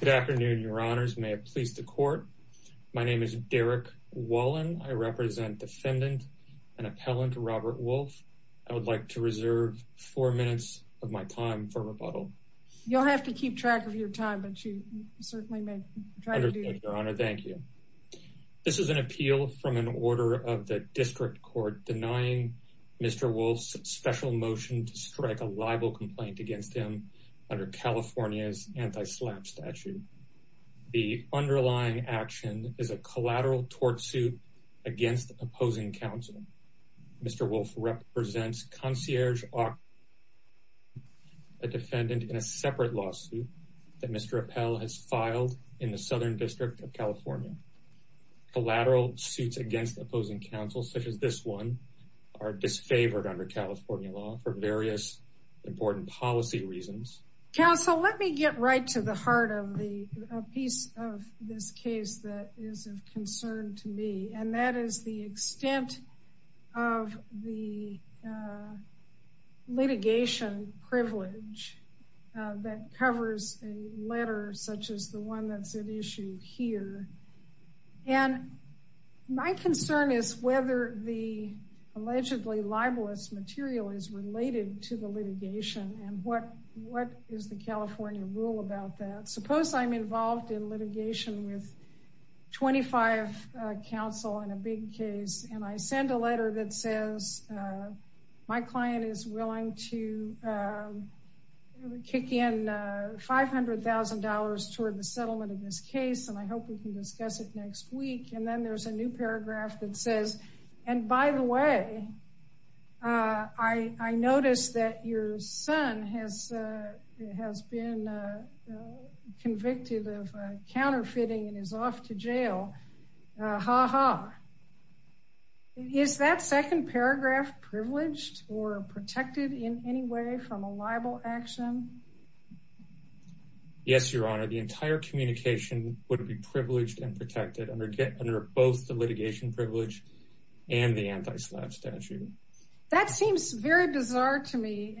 Good afternoon, your honors. May it please the court. My name is Derrick Wallen. I represent defendant and appellant Robert Wolf. I would like to reserve four minutes of my time for rebuttal. You'll have to keep track of your time, but you certainly may try to do your honor. Thank you. This is an appeal from an order of the district court denying Mr. Wolf's special motion to strike a libel complaint against him under California's anti-slap statute. The underlying action is a collateral tort suit against opposing counsel. Mr. Wolf represents concierge, a defendant in a separate lawsuit that Mr. Appel has filed in the Southern District of California. Collateral suits against opposing counsel, such as this one, are disfavored under California law for various important policy reasons. Counsel, let me get right to the heart of the piece of this case that is of concern to me, and that is the extent of the litigation privilege that covers a letter such as the one that's at issue here. And my concern is whether the allegedly libelous material is related to the litigation and what is the California rule about that. Suppose I'm involved in litigation with 25 counsel in a big case, and I send a letter that says my client is willing to kick in $500,000 toward the settlement of this case, and I hope we can discuss it next week. And then there's a new paragraph that says, and by the way, I noticed that your son has been convicted of counterfeiting and is off to jail. Ha ha. Is that second paragraph privileged or protected in any way from a libel action? Yes, Your Honor. The entire communication would be privileged and protected under both the litigation privilege and the anti-slap statute. That seems very bizarre to me,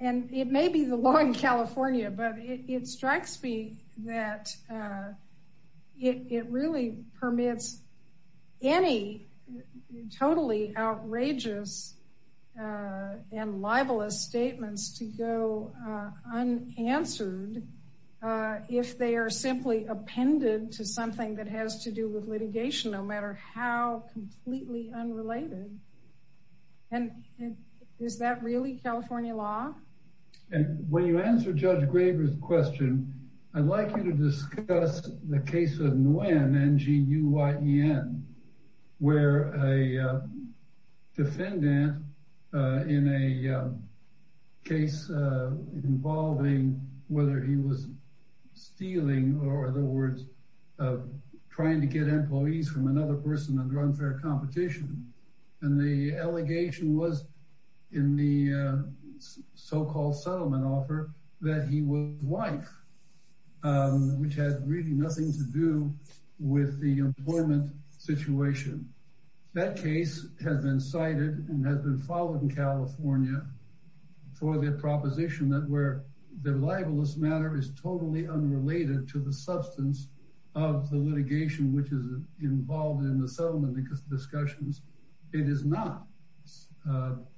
and it may be the law in California, but it strikes me that it really permits any totally outrageous and libelous statements to go unanswered if they are simply appended to something that has to do with litigation, no matter how completely unrelated. And is that really California law? And when you answer Judge Graber's question, I'd like you to discuss the case of Nguyen, N-G-U-Y-E-N, where a defendant in a case involving whether he was stealing or, in other words, trying to get employees from another person and run for a competition, and the allegation was in the so-called settlement offer that he was the wife, which had really nothing to do with the employment situation. That case has been cited and has been followed in California for the proposition that where the libelous matter is totally unrelated to the substance of the litigation, which is involved in the settlement discussions, it is not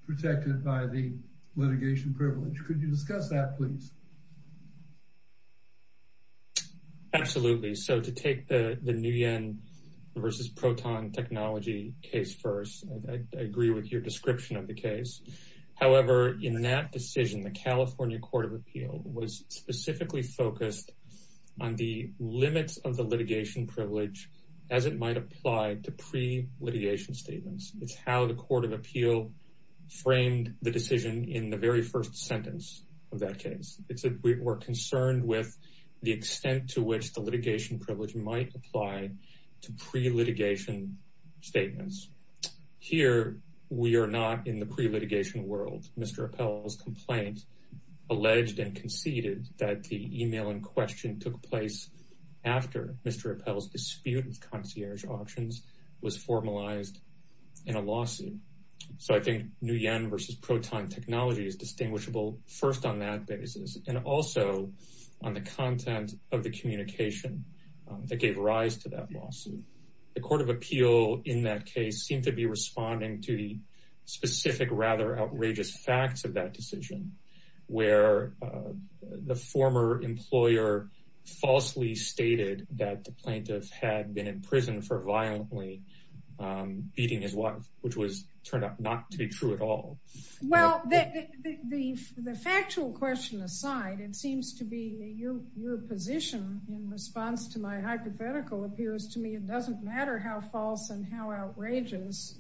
protected by the litigation privilege. Could you discuss that, please? Absolutely. So to take the Nguyen v. Proton technology case first, I agree with your description of the case. However, in that decision, the California Court of Appeal was specifically focused on the limits of the litigation privilege as it might apply to pre-litigation statements. It's how the Court of Appeal framed the decision in the very first sentence of that case. It's that we're concerned with the extent to which the litigation privilege might apply to pre-litigation statements. Here, we are not in the pre-litigation world. Mr. Appell's complaint alleged and conceded that the email in question took place after Mr. Appell's dispute with concierge auctions was formalized in a lawsuit. So I think Nguyen v. Proton technology is distinguishable first on that basis and also on the content of the communication that gave rise to that lawsuit. The Court of Appeal in that case seemed to be responding to the specific, rather outrageous facts of that decision where the former employer falsely stated that the plaintiff had been in prison for violently beating his wife, which turned out not to be true at all. Well, the factual question aside, it seems to be your position in response to my hypothetical appears to me it doesn't matter how false and how outrageous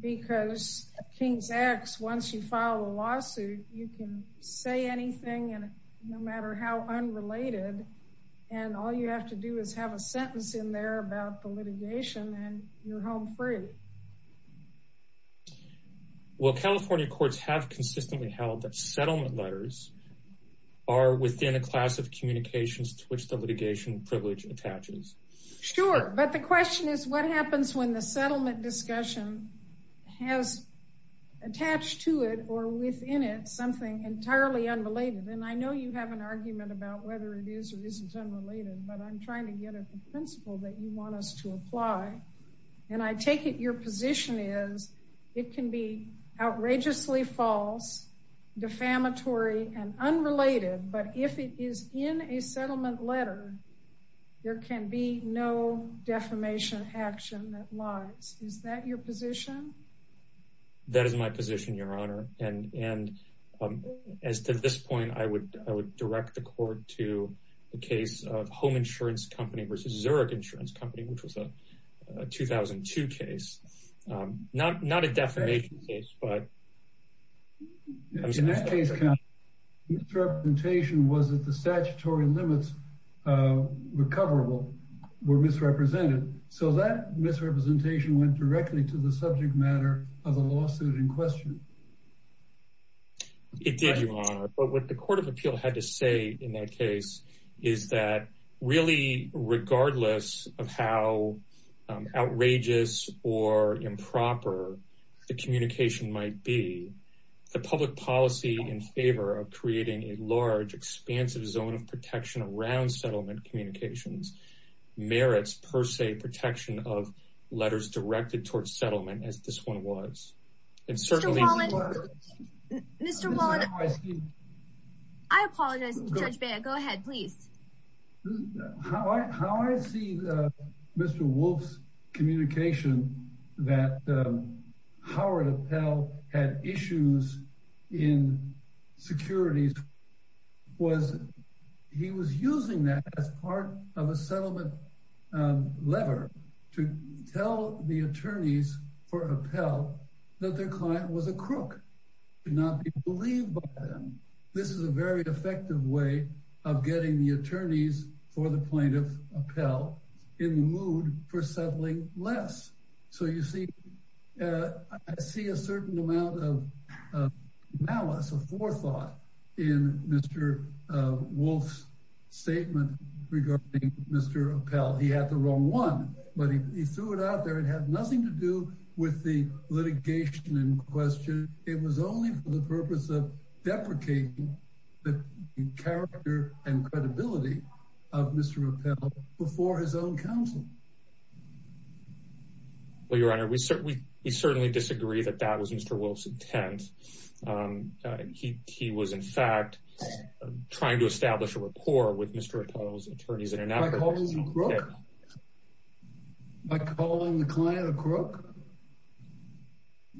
because King's X, once you file a lawsuit, you can say anything and no matter how unrelated and all you have to do is have a sentence in there about the litigation and you're home free. Well, California courts have consistently held that settlement letters are within a class of communications to which the Sure, but the question is what happens when the settlement discussion has attached to it or within it something entirely unrelated? And I know you have an argument about whether it is or isn't unrelated, but I'm trying to get at the principle that you want us to apply and I take it your position is it can be outrageously false, defamatory and unrelated, but if it is in a settlement letter, there can be no defamation action that lies. Is that your position? That is my position, your honor. And as to this point, I would direct the court to the case of Home Insurance Company versus Zurich Insurance Company, which was a 2002 case. Not a defamation case, but... In that case, count, misrepresentation was that the statutory limits, recoverable, were misrepresented. So that misrepresentation went directly to the subject matter of the lawsuit in question. It did, your honor. But what the Court of Appeal had to in that case is that really, regardless of how outrageous or improper the communication might be, the public policy in favor of creating a large, expansive zone of protection around settlement communications merits, per se, protection of letters directed towards settlement, as this one was. And certainly... Mr. Wallen... Mr. Wallen... I apologize, Judge Baird. Go ahead, please. How I see Mr. Wolf's communication that Howard Appell had issues in securities was he was using that as part of a settlement lever to tell the attorneys for Appell that their client was a crook, to not be believed by them. This is a very effective way of getting the attorneys for the plaintiff, Appell, in the mood for settling less. So you see, I see a certain amount of malice, of forethought in Mr. Wolf's statement regarding Mr. Appell. He had the wrong one, but he threw it out there. It had nothing to do with the litigation in question. It was only for the purpose of deprecating the character and credibility of Mr. Appell before his own counsel. Well, Your Honor, we certainly disagree that that was Mr. Wolf's intent. He was, in fact, trying to establish a rapport with Mr. Appell's attorneys. By calling the client a crook?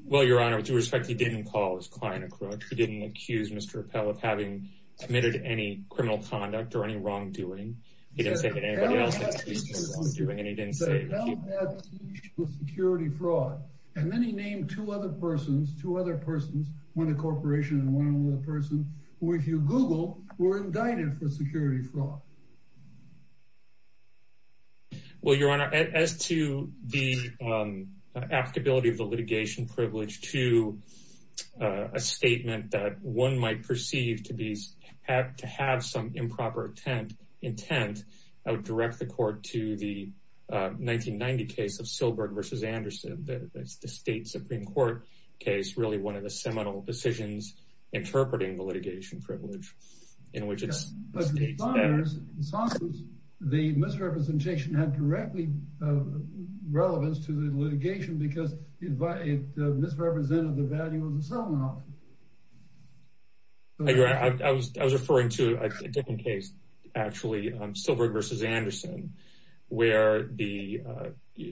Well, Your Honor, with due respect, he didn't call his client a crook. He didn't accuse Mr. Appell of having committed any criminal conduct or any wrongdoing. He didn't say that anybody else had committed any wrongdoing, and he didn't say that he— Mr. Appell had to be accused of security fraud, and then he named two other persons, two other persons, one a corporation and one another person, who, if you Google, were indicted for security fraud. Well, Your Honor, as to the applicability of the litigation privilege to a statement that one might perceive to have some improper intent, I would direct the court to the 1990 case of Silberg v. Anderson. That's the state Supreme Court case, really one of the seminal decisions interpreting the litigation privilege, in which it states— But, Your Honor, the misrepresentation had directly relevance to the litigation, because it misrepresented the value of the settlement offer. I agree. I was referring to a different case, actually, on Silberg v. Anderson, where the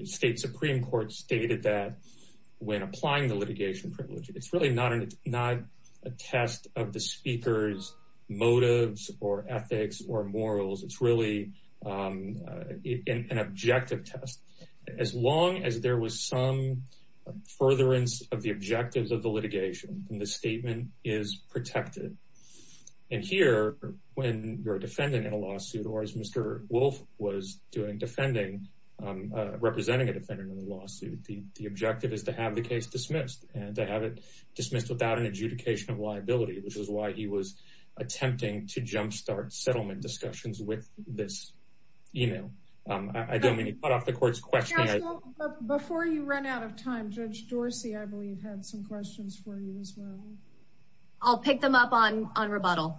state Supreme Court stated that when applying the litigation privilege, it's really not a test of the speaker's motives or ethics or morals. It's really an objective test. As long as there was some furtherance of the objectives of the litigation, the statement is protected. And here, when you're a defendant in a lawsuit, or as Mr. Wolf was doing, representing a defendant in a lawsuit, the objective is to have the case dismissed and to have it dismissed without an adjudication of liability, which is why he was attempting to jumpstart settlement discussions with this email. I don't mean to cut off the court's question— Counsel, before you run out of time, Judge Dorsey, I believe, had some questions for you, as well. I'll pick them up on rebuttal.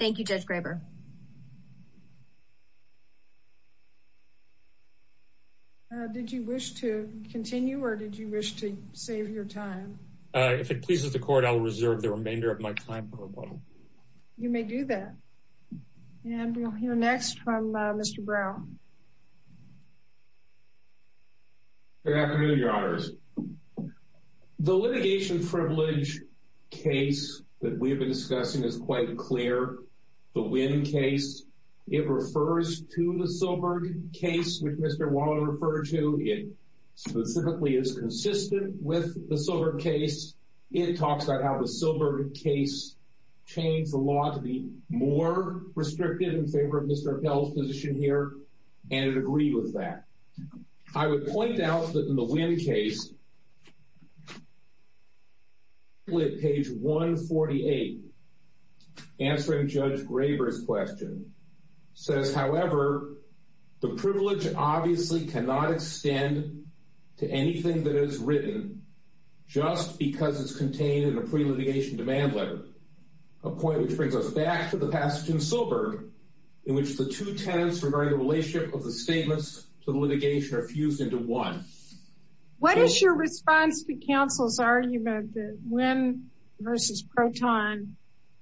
Thank you, Judge Graber. Did you wish to continue, or did you wish to save your time? If it pleases the court, I'll reserve the remainder of my time for rebuttal. You may do that. And we'll hear next from Mr. Brown. Good afternoon, Your Honors. The litigation privilege case that we have been discussing is quite clear. The Wynn case, it refers to the Silberg case, which Mr. Waller referred to. It specifically is consistent with the Silberg case. It talks about how the Silberg case changed the law to be more restrictive in favor of Mr. Appell's position here. And I'd agree with that. I would point out that in the Wynn case, page 148, answering Judge Graber's question, says, however, the privilege obviously cannot extend to anything that is written just because it's contained in a pre-litigation demand letter, a point which brings us back to the passage in Silberg, in which the two tenets regarding relationship of the statements to the litigation are fused into one. What is your response to counsel's argument that Wynn versus Proton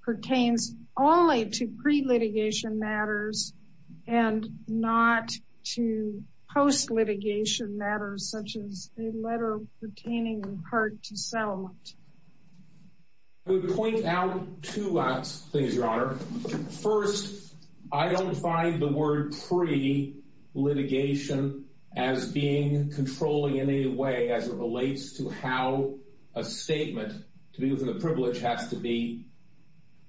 pertains only to pre-litigation matters and not to post-litigation matters, such as a letter pertaining in part to settlement? I would point out two things, Your Honor. First, I don't find the word pre-litigation as being controlling in any way as it relates to how a statement to be within the privilege has to be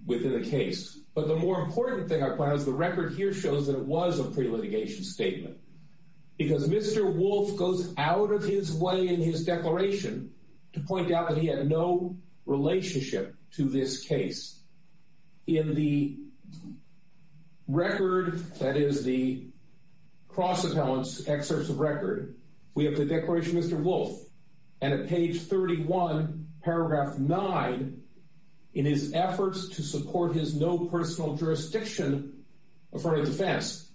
within the case. But the more important thing I find is the record here shows that it was a pre-litigation statement. Because Mr. Wolf goes out of his way in his declaration to point out he had no relationship to this case. In the record, that is, the cross-appellant's excerpts of record, we have the declaration of Mr. Wolf. And at page 31, paragraph 9, in his efforts to support his no personal jurisdiction affirmative defense,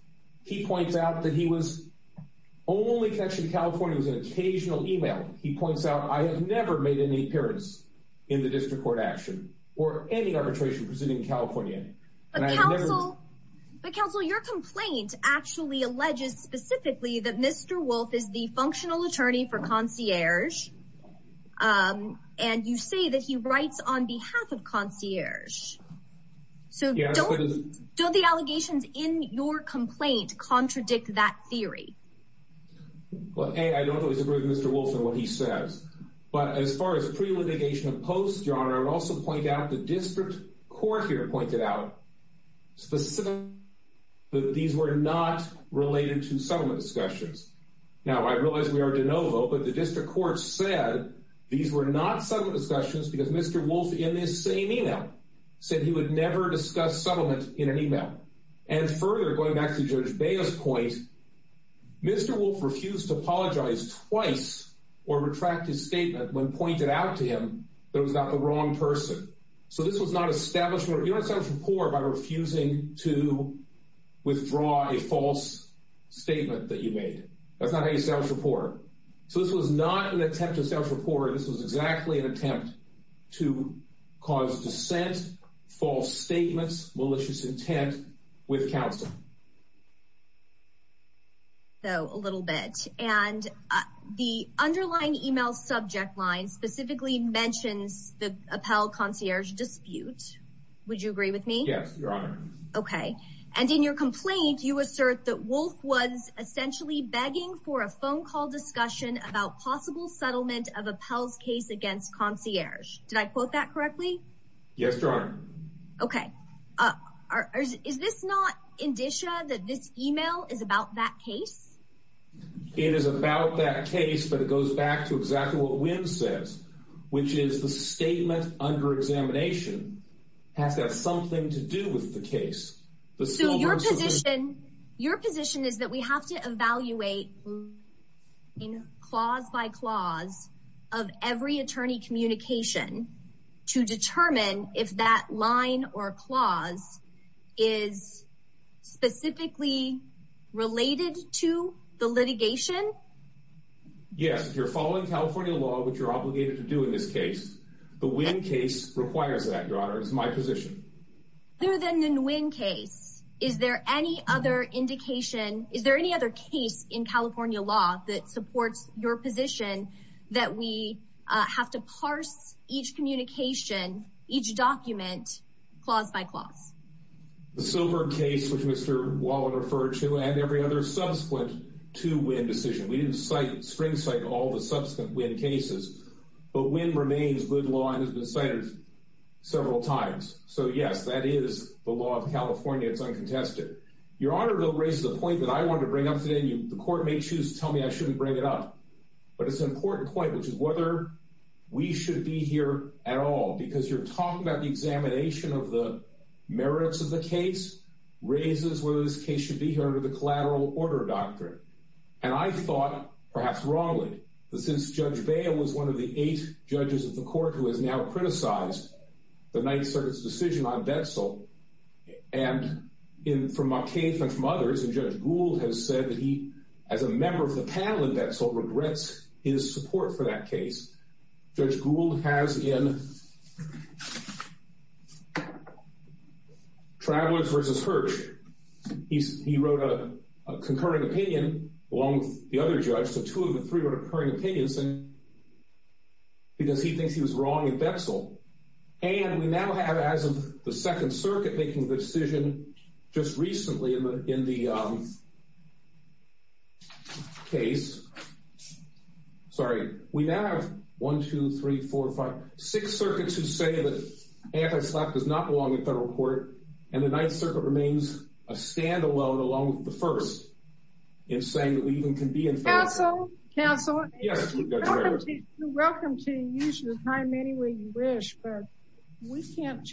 he points out that he was only connected to California in an occasional email. He points out, I have never made any appearance in the district court action or any arbitration proceeding in California. But counsel, your complaint actually alleges specifically that Mr. Wolf is the functional attorney for concierge. And you say that he writes on behalf of concierge. So don't the allegations in your complaint contradict that theory? Well, A, I don't always agree with Mr. Wolf and what he says. But as far as pre-litigation and post, Your Honor, I would also point out the district court here pointed out specifically that these were not related to settlement discussions. Now, I realize we are de novo, but the district court said these were not settlement discussions because Mr. Wolf, in this same email, said he would never discuss settlement in an email. And further, going back to Judge Baya's point, Mr. Wolf refused to apologize twice or retract his statement when pointed out to him that it was not the wrong person. So this was not establishment. You don't establish rapport by refusing to withdraw a false statement that you made. That's not how you establish rapport. So this was not an attempt to establish rapport. This was exactly an attempt to cause dissent, false statements, malicious intent with counsel. So a little bit. And the underlying email subject line specifically mentions the Appell concierge dispute. Would you agree with me? Yes, Your Honor. Okay. And in your complaint, you assert that Wolf was essentially begging for a phone call discussion about possible settlement of Appell's case against concierge. Did I quote that correctly? Yes, Your Honor. Okay. Uh, is this not indicia that this email is about that case? It is about that case, but it goes back to exactly what Wynn says, which is the statement under examination has got something to do with the case. So your position is that we have to evaluate in clause by clause of every attorney communication to determine if that line or clause is specifically related to the litigation? Yes. If you're following California law, which you're obligated to do in this case, the Wynn case requires that, Your Honor. It's my law that supports your position that we have to parse each communication, each document, clause by clause. The silver case, which Mr. Wallen referred to, and every other subsequent to Wynn decision. We didn't cite, string cite all the subsequent Wynn cases, but Wynn remains good law and has been cited several times. So yes, that is the law of California. It's uncontested. Your Honor, to raise the point that I wanted to bring up today, the court may choose to tell me I shouldn't bring it up, but it's an important point, which is whether we should be here at all. Because you're talking about the examination of the merits of the case raises whether this case should be here under the collateral order doctrine. And I thought, perhaps wrongly, that since Judge Bale was one of the eight judges of the court who has now criticized the Ninth Circuit's decision on Betzel, and from my case and from others, and Judge Gould has said that he, as a member of the panel in Betzel, regrets his support for that case. Judge Gould has in Travelers v. Hirsch, he wrote a concurring opinion along with the other judge, so two of the three were concurring opinions, because he thinks he was wrong in Betzel. And we now have, as of the Second Circuit making the decision just recently in the case, sorry, we now have one, two, three, four, five, six circuits who say that Antislap does not belong in federal court, and the Ninth Circuit remains a standalone along with the first in saying that we even can be in federal court. Counsel, counsel, you're welcome to use your time any way you wish, but we can't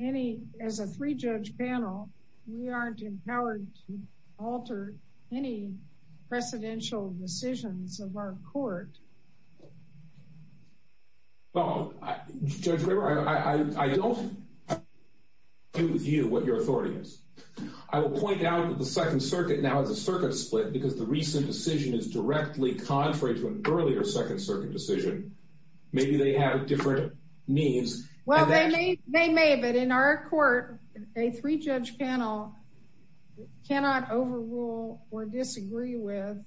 any, as a three-judge panel, we aren't empowered to alter any precedential decisions of our court. Well, Judge River, I don't agree with you, what your authority is. I will point out that the Second Circuit now has a circuit split because the recent decision is directly contrary to an means. Well, they may, but in our court, a three-judge panel cannot overrule or disagree with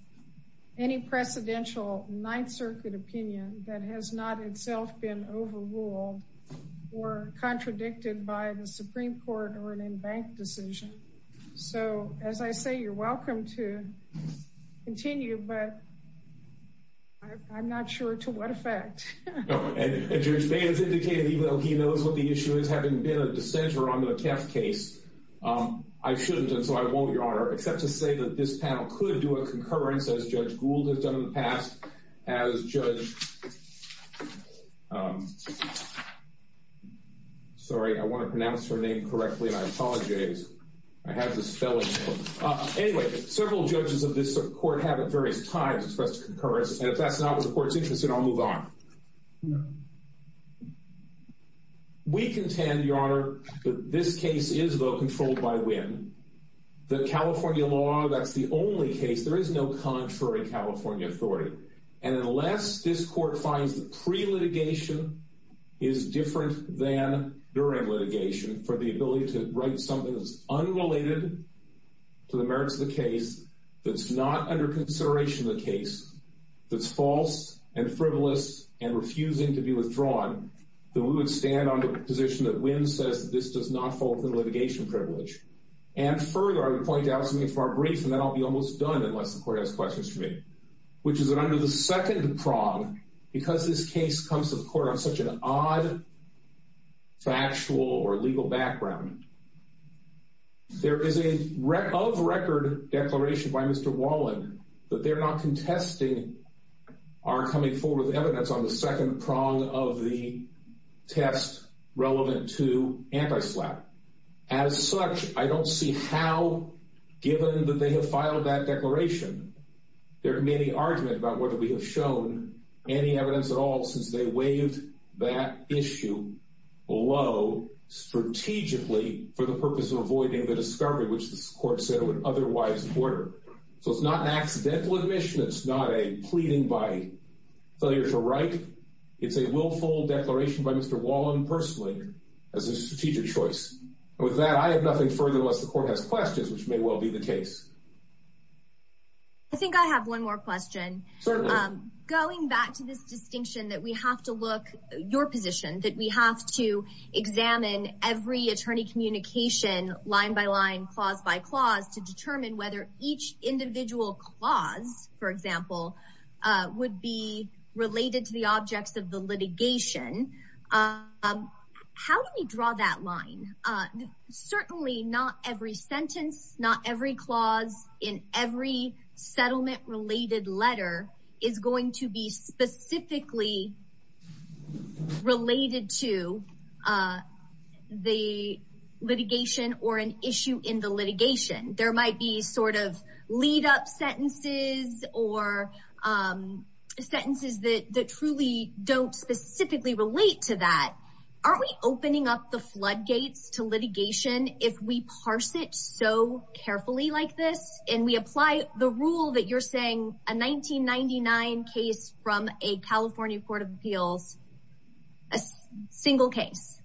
any precedential Ninth Circuit opinion that has not itself been overruled or contradicted by the Supreme Court or an embanked decision. So, as I say, you're welcome to continue, but I'm not sure to what effect. And Judge Banz indicated, even though he knows what the issue is, having been a dissenter on the Keft case, I shouldn't, and so I won't, Your Honor, except to say that this panel could do a concurrence, as Judge Gould has done in the past, as Judge, sorry, I want to pronounce her name correctly, and I apologize. I have the spelling. Anyway, several judges of this court have at various times expressed concurrence, and if that's not what the court's interested in, I'll move on. We contend, Your Honor, that this case is, though, controlled by Winn. The California law, that's the only case, there is no contrary California authority. And unless this court finds that pre-litigation is different than during litigation for the ability to write something unrelated to the merits of the case, that's not under consideration in the case, that's false and frivolous and refusing to be withdrawn, then we would stand on the position that Winn says this does not fall within litigation privilege. And further, I would point out something far brief, and then I'll be almost done unless the court has questions for me, which is that under the second prong, because this case comes to the court on such an odd factual or legal background, there is a of record declaration by Mr. Wallen that they're not contesting our coming forward with evidence on the second prong of the test relevant to anti-SLAPP. As such, I don't see how, given that they have filed that declaration, there can be any argument about whether we have shown any evidence at all since they waived that issue below strategically for the purpose of avoiding the discovery, which this court said it would otherwise order. So it's not an accidental admission, it's not a pleading by failure to write, it's a willful declaration by Mr. Wallen personally as a strategic choice. And with that, I have nothing further unless the court has questions. I think I have one more question. Going back to this distinction that we have to look at your position, that we have to examine every attorney communication line by line, clause by clause, to determine whether each individual clause, for example, would be related to the objects of the litigation. How do we draw that line? Certainly not every sentence, not every clause in every settlement-related letter is going to be specifically related to the litigation or an issue in the litigation. There might be sort of lead-up sentences or sentences that truly don't specifically relate to that. Aren't we opening up the floodgates to litigation if we parse it so carefully like this and we apply the rule that you're saying, a 1999 case from a California court of appeals, a single case?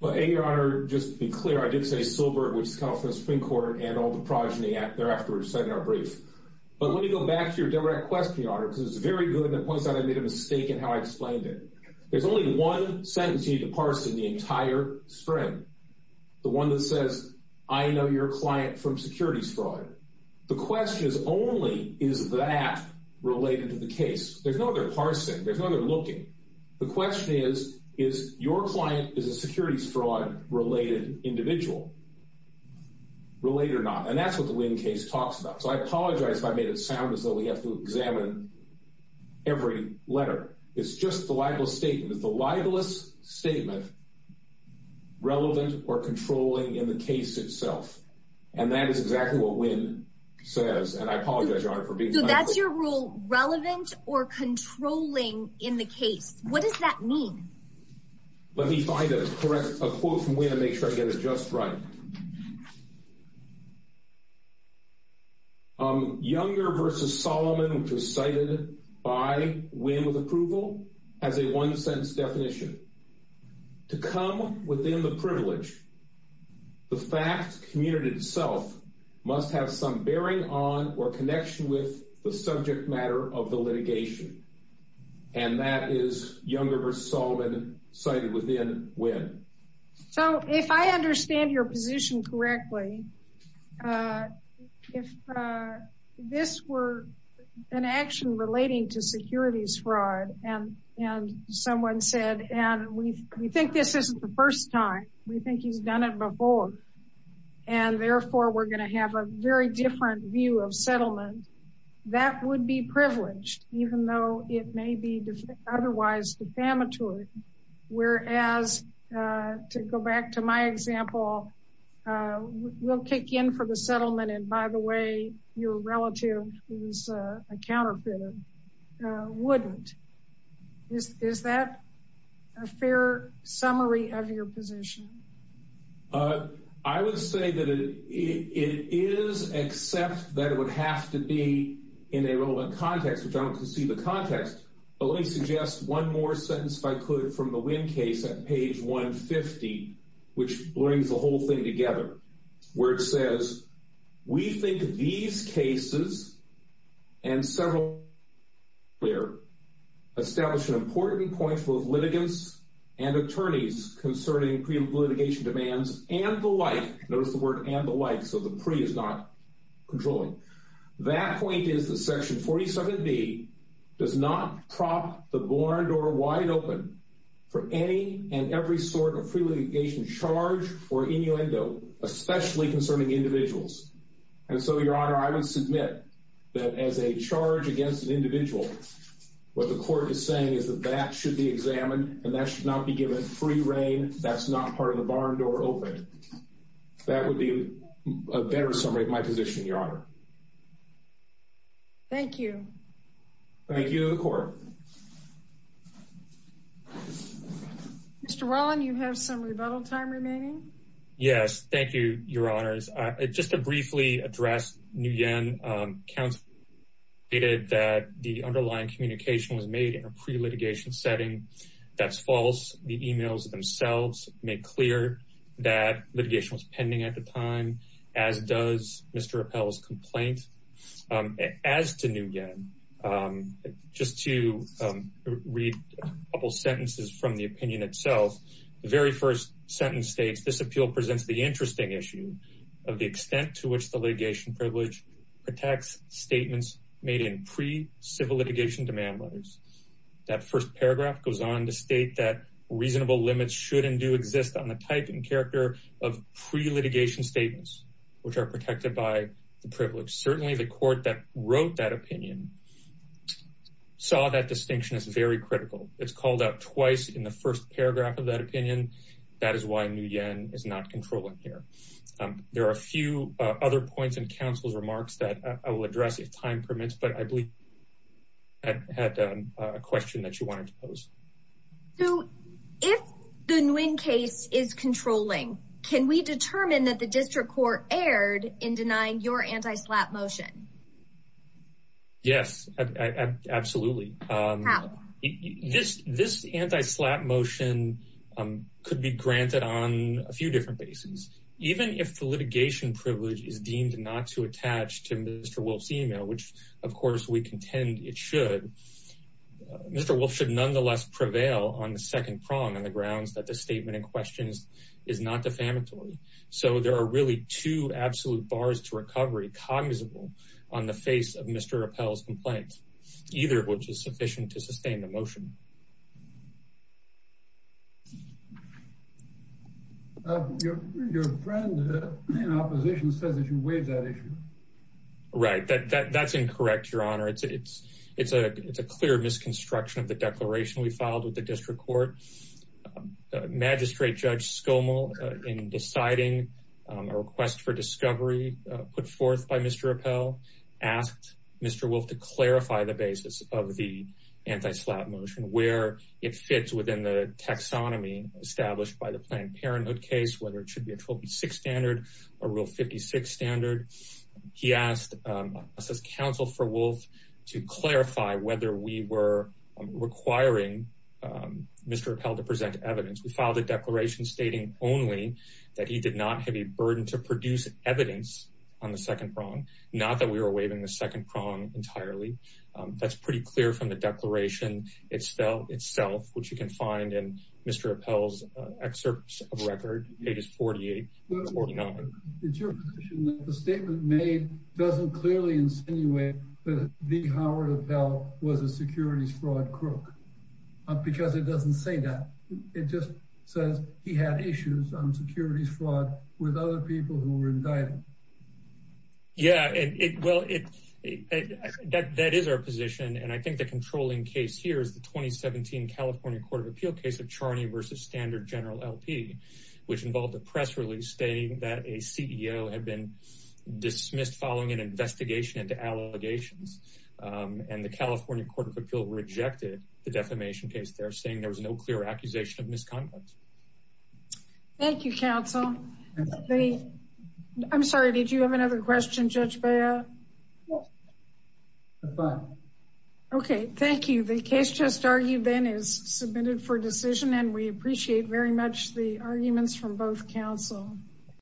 Well, your honor, just to be clear, I did say Silbert, which is the California Supreme Court, and all the progeny thereafter said in our brief. But let me go back to your direct question, your honor, because it's very good and it points out I made a mistake in how I explained it. There's only one sentence you need to parse in the entire string. The one that says, I know your client from securities fraud. The question is only, is that related to the case? There's no other parsing. There's no other looking. The question is, is your client is a securities fraud-related individual? Related or not? And that's what the Lynn case talks about. So I apologize if I made it sound as if we have to examine every letter. It's just the libelous statement. Is the libelous statement relevant or controlling in the case itself? And that is exactly what Lynn says. And I apologize, your honor, for being- So that's your rule, relevant or controlling in the case. What does that mean? Let me find a correct, a quote from Lynn and make sure I get it just right. Younger v. Solomon, which was cited by Wynn with approval, has a one-sentence definition. To come within the privilege, the fact community itself must have some bearing on or connection with the subject matter of the litigation. And that is Younger v. Solomon, cited within Wynn. So if I understand your position correctly, if this were an action relating to securities fraud and someone said, and we think this isn't the first time, we think he's done it before, and therefore we're going to have a very different view of settlement, that would be privileged, even though it may be otherwise defamatory. Whereas, to go back to my example, we'll kick in for the settlement, and by the way, your relative, who's a counterfeiter, wouldn't. Is that a fair summary of your position? Uh, I would say that it is, except that it would have to be in a relevant context, which I don't concede the context, but let me suggest one more sentence, if I could, from the Wynn case at page 150, which brings the whole thing together, where it says, we think these cases, and several earlier, establish an important point for litigants and attorneys concerning pre-litigation demands and the like. Notice the word and the like, so the pre is not controlling. That point is that section 47b does not prop the bar door wide open for any and every sort of pre-litigation charge or innuendo, especially concerning individuals. And so, your honor, I would submit that as a charge against an individual, what the court is saying is that that should be examined, and that should not be given free reign, that's not part of the bar door open. That would be a better summary of my position, your honor. Thank you. Thank you to the court. Mr. Rollin, you have some rebuttal time remaining. Yes, thank you, your honors. Just to briefly address, Nguyen stated that the underlying communication was made in a pre-litigation setting. That's false. The emails themselves make clear that litigation was pending at the time, as does Mr. Appell's complaint. As to Nguyen, just to read a couple sentences from the opinion itself, the very first sentence states, this appeal presents the interesting issue of the privilege, protects statements made in pre-civil litigation demand letters. That first paragraph goes on to state that reasonable limits should and do exist on the type and character of pre-litigation statements, which are protected by the privilege. Certainly, the court that wrote that opinion saw that distinction as very critical. It's called out twice in the first paragraph of that opinion. That is why Nguyen is not controlling here. There are a few other points in counsel's remarks that I will address if time permits, but I believe I had a question that you wanted to pose. If the Nguyen case is controlling, can we determine that the district court erred in denying your anti-SLAPP motion? Yes, absolutely. How? This anti-SLAPP motion could be granted on a few different bases. Even if the litigation privilege is deemed not to attach to Mr. Wolf's email, which of course we contend it should, Mr. Wolf should nonetheless prevail on the second prong on the grounds that the statement in question is not defamatory. There are really two absolute bars to recovery, cognizable on the face of Mr. Rappel's complaint, either of which is sufficient to sustain the motion. Your friend in opposition says that you waived that issue. Right, that's incorrect, your honor. It's a clear misconstruction of the declaration we filed with the district court. The magistrate, Judge Skomal, in deciding a request for discovery put forth by Mr. Rappel, asked Mr. Wolf to clarify the basis of the anti-SLAPP motion, where it fits within the taxonomy established by the Planned Parenthood case, whether it should be a 126 standard or counsel for Wolf to clarify whether we were requiring Mr. Rappel to present evidence. We filed a declaration stating only that he did not have a burden to produce evidence on the second prong, not that we were waiving the second prong entirely. That's pretty clear from the declaration itself, which you can find in Mr. Rappel's excerpts of record, pages 48 and 49. It's your position that the statement made doesn't clearly insinuate that V. Howard Rappel was a securities fraud crook, because it doesn't say that. It just says he had issues on securities fraud with other people who were indicted. Yeah, well, that is our position, and I think the controlling case here is the 2017 California Court of Appeal case of Charney versus Standard General which involved a press release stating that a CEO had been dismissed following an investigation into allegations, and the California Court of Appeal rejected the defamation case there, saying there was no clear accusation of misconduct. Thank you, counsel. I'm sorry, did you have another question, Judge Beyer? No, I'm fine. Okay, thank you. The case just argued then is submitted for decision, and we appreciate very much the arguments from both counsel.